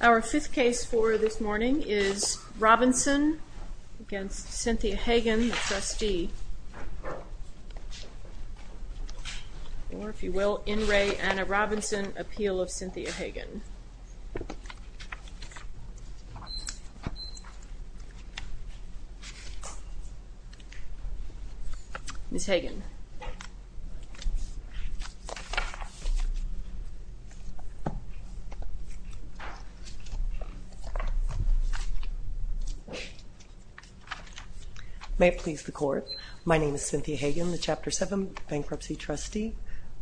Our fifth case for this morning is Robinson v. Cynthia Hagan, trustee, or if you will, bankruptcy estate of Anna Robinson. May it please the court, my name is Cynthia Hagan, the Chapter 7 bankruptcy trustee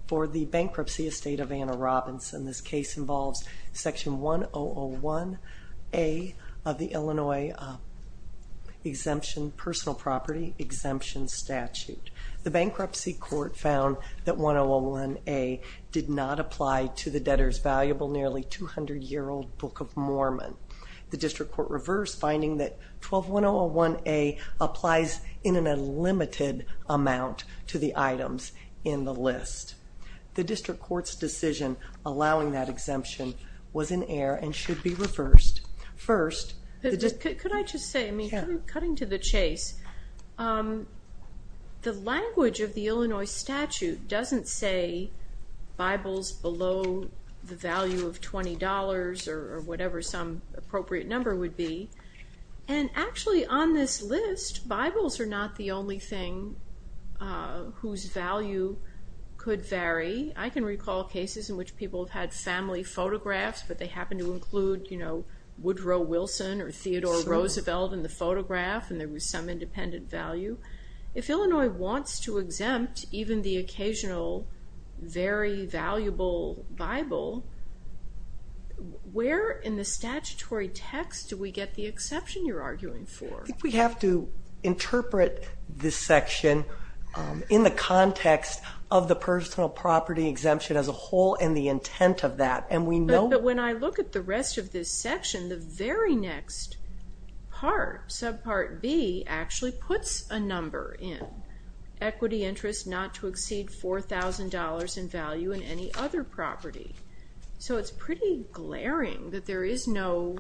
for the bankruptcy estate of Anna Robinson. And this case involves section 1001A of the Illinois personal property exemption statute. The bankruptcy court found that 1001A did not apply to the debtor's valuable nearly 200-year-old book of Mormon. The district court reversed, finding that 12001A applies in an unlimited amount to the items in the list. The district court's decision allowing that exemption was in error and should be reversed. First, the district court... Could I just say, cutting to the chase, the language of the Illinois statute doesn't say Bibles below the value of $20 or whatever some appropriate number would be. And actually on this list, Bibles are not the only thing whose value could vary. I can recall cases in which people have had family photographs, but they happen to include Woodrow Wilson or Theodore Roosevelt in the photograph and there was some independent value. If Illinois wants to exempt even the occasional very valuable Bible, where in the statutory text do we get the exception you're arguing for? I think we have to interpret this section in the context of the personal property exemption as a whole and the intent of that. But when I look at the rest of this section, the very next part, subpart B, actually puts a number in. Equity interest not to exceed $4,000 in value in any other property. So it's pretty glaring that there is no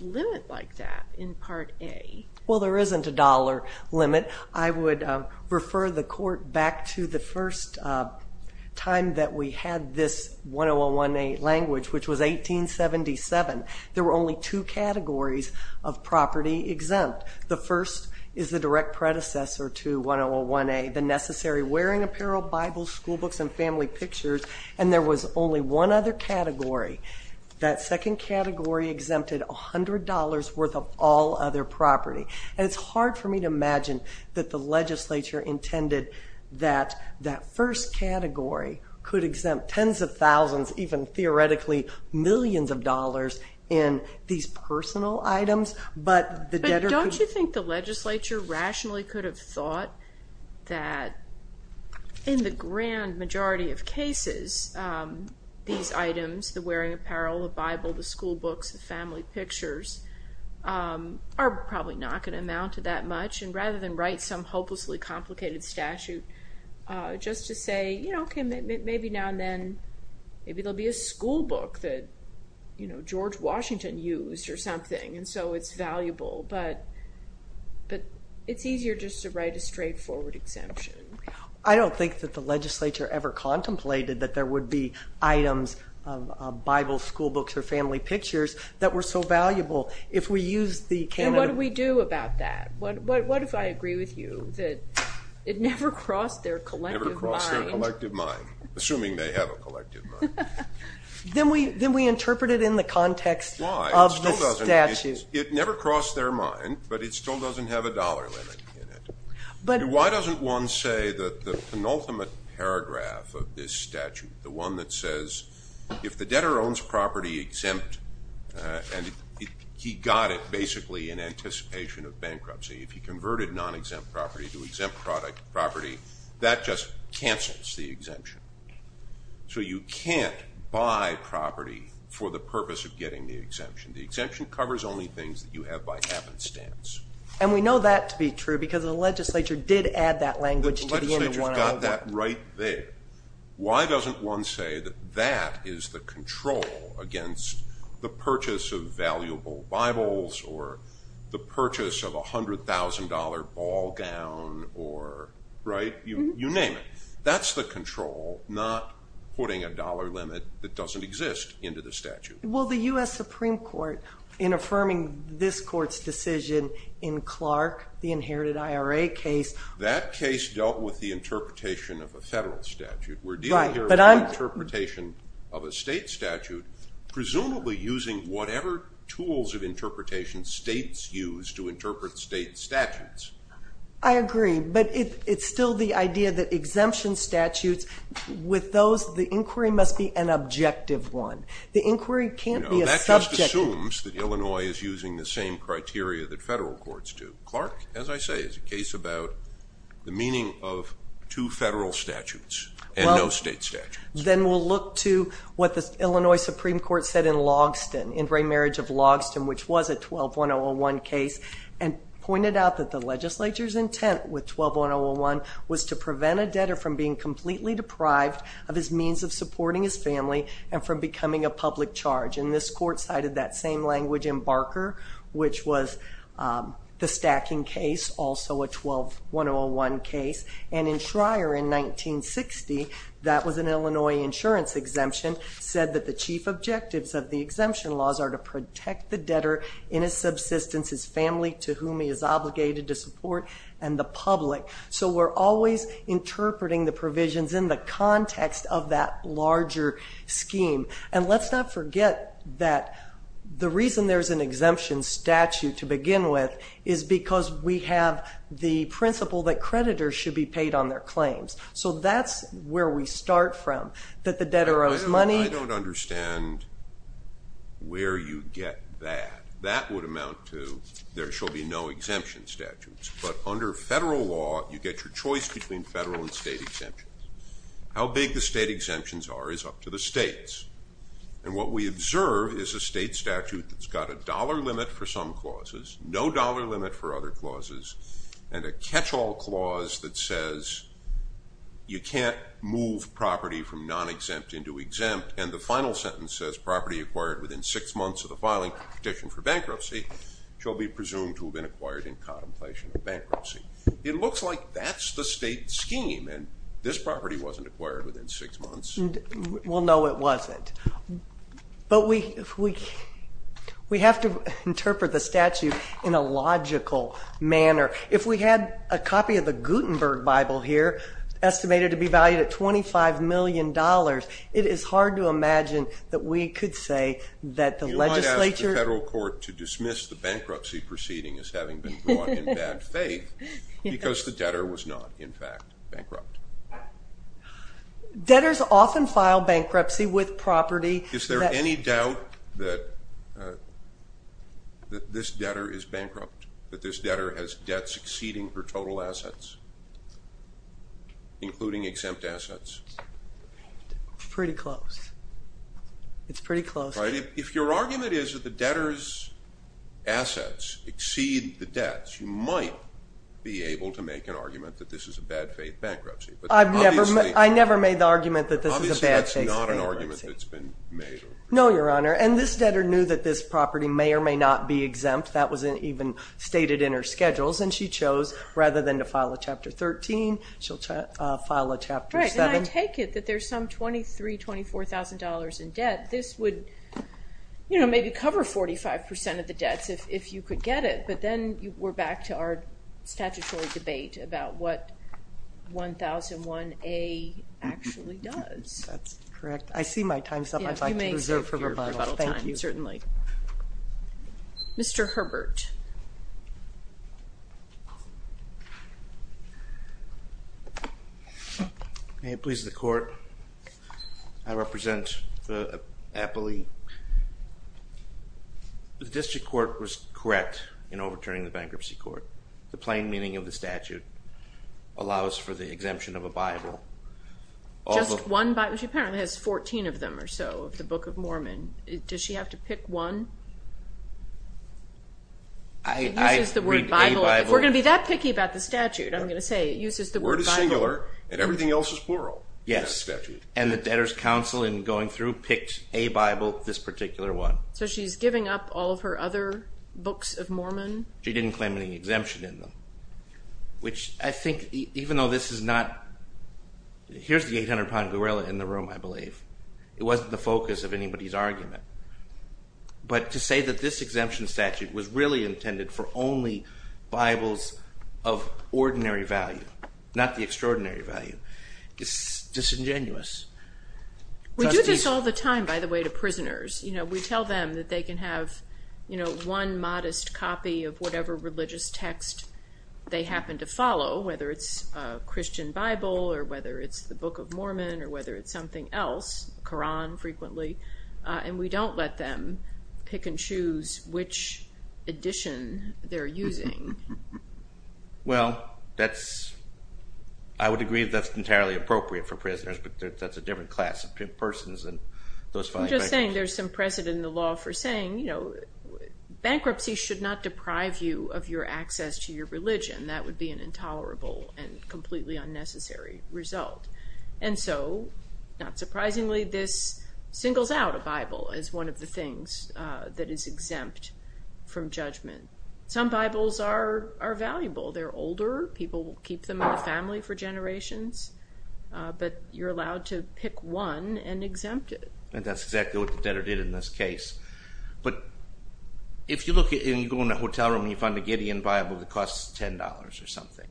limit like that in part A. Well, there isn't a dollar limit. I would refer the court back to the first time that we had this 1001A language, which was 1877. There were only two categories of property exempt. The first is the direct predecessor to 1001A, the necessary wearing apparel, Bibles, school books, and family pictures, and there was only one other category. That second category exempted $100 worth of all other property. And it's hard for me to imagine that the legislature intended that that first category could exempt tens of thousands, even theoretically millions of dollars in these personal items. But don't you think the legislature rationally could have thought that in the grand majority of cases, these items, the wearing apparel, the Bible, the school books, the family pictures, are probably not going to amount to that much? Rather than write some hopelessly complicated statute just to say, you know, maybe now and then there will be a school book that George Washington used or something, and so it's valuable. But it's easier just to write a straightforward exemption. I don't think that the legislature ever contemplated that there would be items of Bible, school books, or family pictures that were so valuable. And what do we do about that? What if I agree with you that it never crossed their collective mind? Assuming they have a collective mind. Then we interpret it in the context of the statute. It never crossed their mind, but it still doesn't have a dollar limit in it. Why doesn't one say that the penultimate paragraph of this statute, the one that says, if the debtor owns property exempt, and he got it basically in anticipation of bankruptcy. If he converted non-exempt property to exempt property, that just cancels the exemption. So you can't buy property for the purpose of getting the exemption. The exemption covers only things that you have by happenstance. And we know that to be true because the legislature did add that language to the end of 101. The legislature's got that right there. Why doesn't one say that that is the control against the purchase of valuable Bibles or the purchase of a $100,000 ball gown or, right? You name it. That's the control, not putting a dollar limit that doesn't exist into the statute. Well, the US Supreme Court, in affirming this court's decision in Clark, the inherited IRA case. That case dealt with the interpretation of a federal statute. We're dealing here with the interpretation of a state statute, presumably using whatever tools of interpretation states use to interpret state statutes. I agree. But it's still the idea that exemption statutes, with those, the inquiry must be an objective one. The inquiry can't be a subject. No, that just assumes that Illinois is using the same criteria that federal courts do. Clark, as I say, is a case about the meaning of two federal statutes and no state statutes. Then we'll look to what the Illinois Supreme Court said in Logston, in Ray Marriage of Logston, which was a 12-101 case, and pointed out that the legislature's intent with 12-101 was to prevent a debtor from being completely deprived of his means of supporting his family and from becoming a public charge. And this court cited that same language in Barker, which was the stacking case, also a 12-101 case. And in Schreyer in 1960, that was an Illinois insurance exemption, said that the chief objectives of the exemption laws are to protect the debtor in his subsistence, his family to whom he is obligated to support, and the public. So we're always interpreting the provisions in the context of that larger scheme. And let's not forget that the reason there's an exemption statute to begin with is because we have the principle that creditors should be paid on their claims. So that's where we start from, that the debtor owes money. I don't understand where you get that. That would amount to there shall be no exemption statutes. But under federal law, you get your choice between federal and state exemptions. How big the state exemptions are is up to the states. And what we observe is a state statute that's got a dollar limit for some clauses, no dollar limit for other clauses, and a catch-all clause that says you can't move property from non-exempt into exempt, and the final sentence says property acquired within six months of the filing of a petition for bankruptcy shall be presumed to have been acquired in contemplation of bankruptcy. It looks like that's the state scheme, and this property wasn't acquired within six months. Well, no, it wasn't. But we have to interpret the statute in a logical manner. If we had a copy of the Gutenberg Bible here estimated to be valued at $25 million, it is hard to imagine that we could say that the legislature ---- unless the bankruptcy proceeding is having been brought in bad faith, because the debtor was not, in fact, bankrupt. Debtors often file bankruptcy with property. Is there any doubt that this debtor is bankrupt, that this debtor has debt succeeding her total assets, including exempt assets? Pretty close. It's pretty close. If your argument is that the debtor's assets exceed the debt, you might be able to make an argument that this is a bad faith bankruptcy. I never made the argument that this is a bad faith bankruptcy. Obviously that's not an argument that's been made. No, Your Honor, and this debtor knew that this property may or may not be exempt. That wasn't even stated in her schedules, and she chose, rather than to file a Chapter 13, she'll file a Chapter 7. Right, and I take it that there's some $23,000, $24,000 in debt. This would, you know, maybe cover 45% of the debts if you could get it, but then we're back to our statutory debate about what 1001A actually does. That's correct. I see my time's up. I'd like to reserve your rebuttal time. Thank you. Certainly. Mr. Herbert. May it please the Court, I represent the appellee. The district court was correct in overturning the bankruptcy court. The plain meaning of the statute allows for the exemption of a Bible. Just one Bible? She apparently has 14 of them or so of the Book of Mormon. Does she have to pick one? It uses the word Bible. If we're going to be that picky about the statute, I'm going to say it uses the word Bible. Word is singular and everything else is plural. Yes. And the debtor's counsel in going through picked a Bible, this particular one. So she's giving up all of her other Books of Mormon? She didn't claim any exemption in them, which I think even though this is not, here's the 800-pound gorilla in the room, I believe. It wasn't the focus of anybody's argument. But to say that this exemption statute was really intended for only Bibles of ordinary value, not the extraordinary value, is disingenuous. We do this all the time, by the way, to prisoners. We tell them that they can have one modest copy of whatever religious text they happen to follow, whether it's a Christian Bible or whether it's the Book of Mormon or whether it's something else, Koran frequently, and we don't let them pick and choose which edition they're using. Well, I would agree that's entirely appropriate for prisoners, but that's a different class of persons. I'm just saying there's some precedent in the law for saying, you know, bankruptcy should not deprive you of your access to your religion. That would be an intolerable and completely unnecessary result. And so, not surprisingly, this singles out a Bible as one of the things that is exempt from judgment. Some Bibles are valuable. They're older. People keep them in the family for generations, but you're allowed to pick one and exempt it. And that's exactly what the debtor did in this case. But if you go in a hotel room and you find a Gideon Bible that costs $10 or something,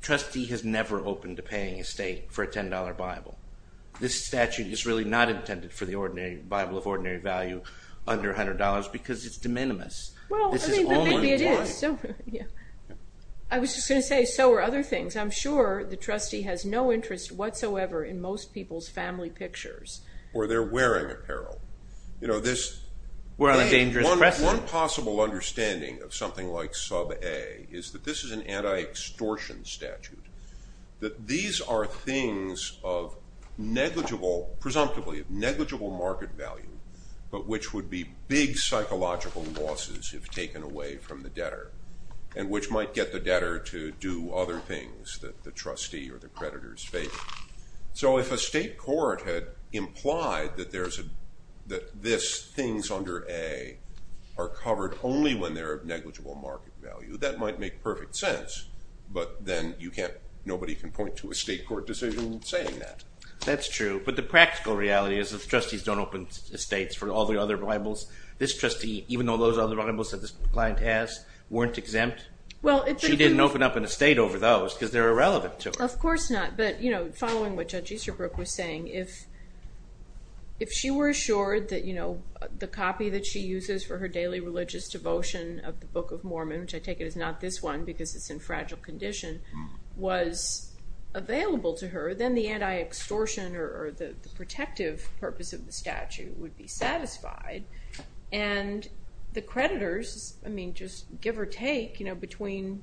trustee has never opened a paying estate for a $10 Bible. This statute is really not intended for the Bible of ordinary value under $100 because it's de minimis. Well, I mean, but maybe it is. I was just going to say so are other things. I'm sure the trustee has no interest whatsoever in most people's family pictures. Or they're wearing apparel. We're on a dangerous precedent. One possible understanding of something like sub A is that this is an anti-extortion statute, that these are things of negligible, presumptively of negligible market value, but which would be big psychological losses if taken away from the debtor and which might get the debtor to do other things that the trustee or the creditor is faking. So if a state court had implied that this, things under A, are covered only when they're of negligible market value, that might make perfect sense. But then nobody can point to a state court decision saying that. That's true. But the practical reality is that the trustees don't open estates for all the other Bibles. This trustee, even though those are the Bibles that this client has, weren't exempt. She didn't open up an estate over those because they're irrelevant to her. Of course not. But following what Judge Easterbrook was saying, if she were assured that the copy that she uses for her daily religious devotion of the Book of Mormon, which I take it is not this one because it's in fragile condition, was available to her, then the anti-extortion or the protective purpose of the statute would be satisfied. And the creditors, I mean, just give or take, between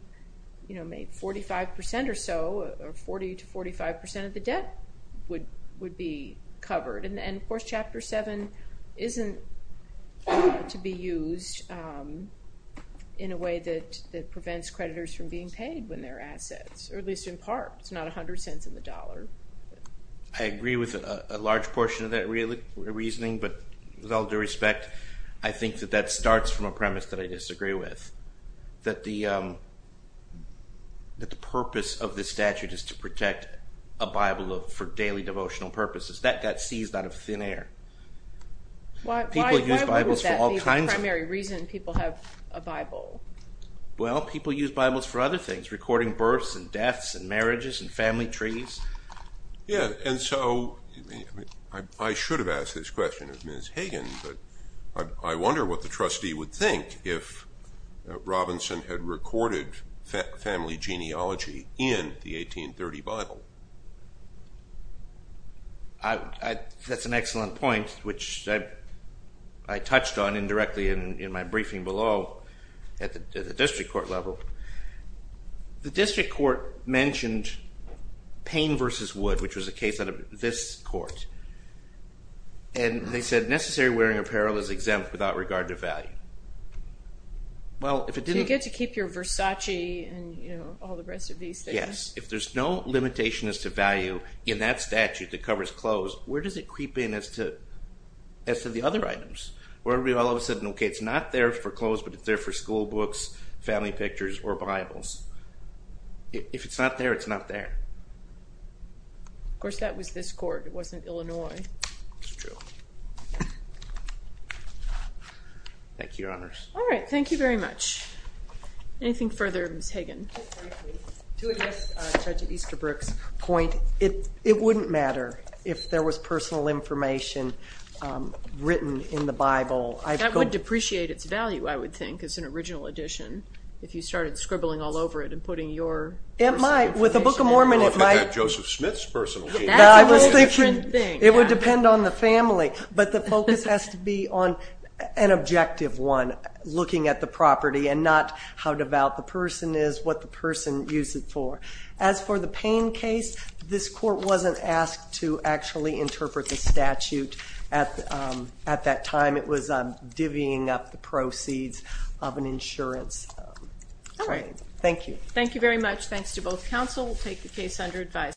maybe 45% or so or 40% to 45% of the debt would be covered. And of course Chapter 7 isn't to be used in a way that prevents creditors from being paid when they're assets, or at least in part. It's not 100 cents in the dollar. I agree with a large portion of that reasoning, but with all due respect, I think that that starts from a premise that I disagree with, that the purpose of this statute is to protect a Bible for daily devotional purposes. That got seized out of thin air. Why would that be the primary reason people have a Bible? Well, people use Bibles for other things, recording births and deaths and marriages and family trees. Yeah, and so I should have asked this question of Ms. Hagen, but I wonder what the trustee would think if Robinson had recorded family genealogy in the 1830 Bible. That's an excellent point, which I touched on indirectly in my briefing below. At the district court level. The district court mentioned Payne v. Wood, which was a case out of this court. And they said necessary wearing apparel is exempt without regard to value. Do you get to keep your Versace and all the rest of these things? Yes. If there's no limitation as to value in that statute that covers clothes, where does it creep in as to the other items? Okay, it's not there for clothes, but it's there for school books, family pictures, or Bibles. If it's not there, it's not there. Of course, that was this court. It wasn't Illinois. That's true. Thank you, Your Honors. All right. Thank you very much. Anything further, Ms. Hagen? To address Judge Easterbrook's point, it wouldn't matter if there was personal information written in the Bible. That would depreciate its value, I would think, as an original addition, if you started scribbling all over it and putting your personal information in there. It might. With the Book of Mormon, it might. Look at that Joseph Smith's personal thing. That's a different thing. It would depend on the family. But the focus has to be on an objective one, looking at the property, and not how devout the person is, what the person used it for. As for the Payne case, this court wasn't asked to actually interpret the statute at that time. It was divvying up the proceeds of an insurance claim. All right. Thank you. Thank you very much. Thanks to both counsel. We'll take the case under advisory.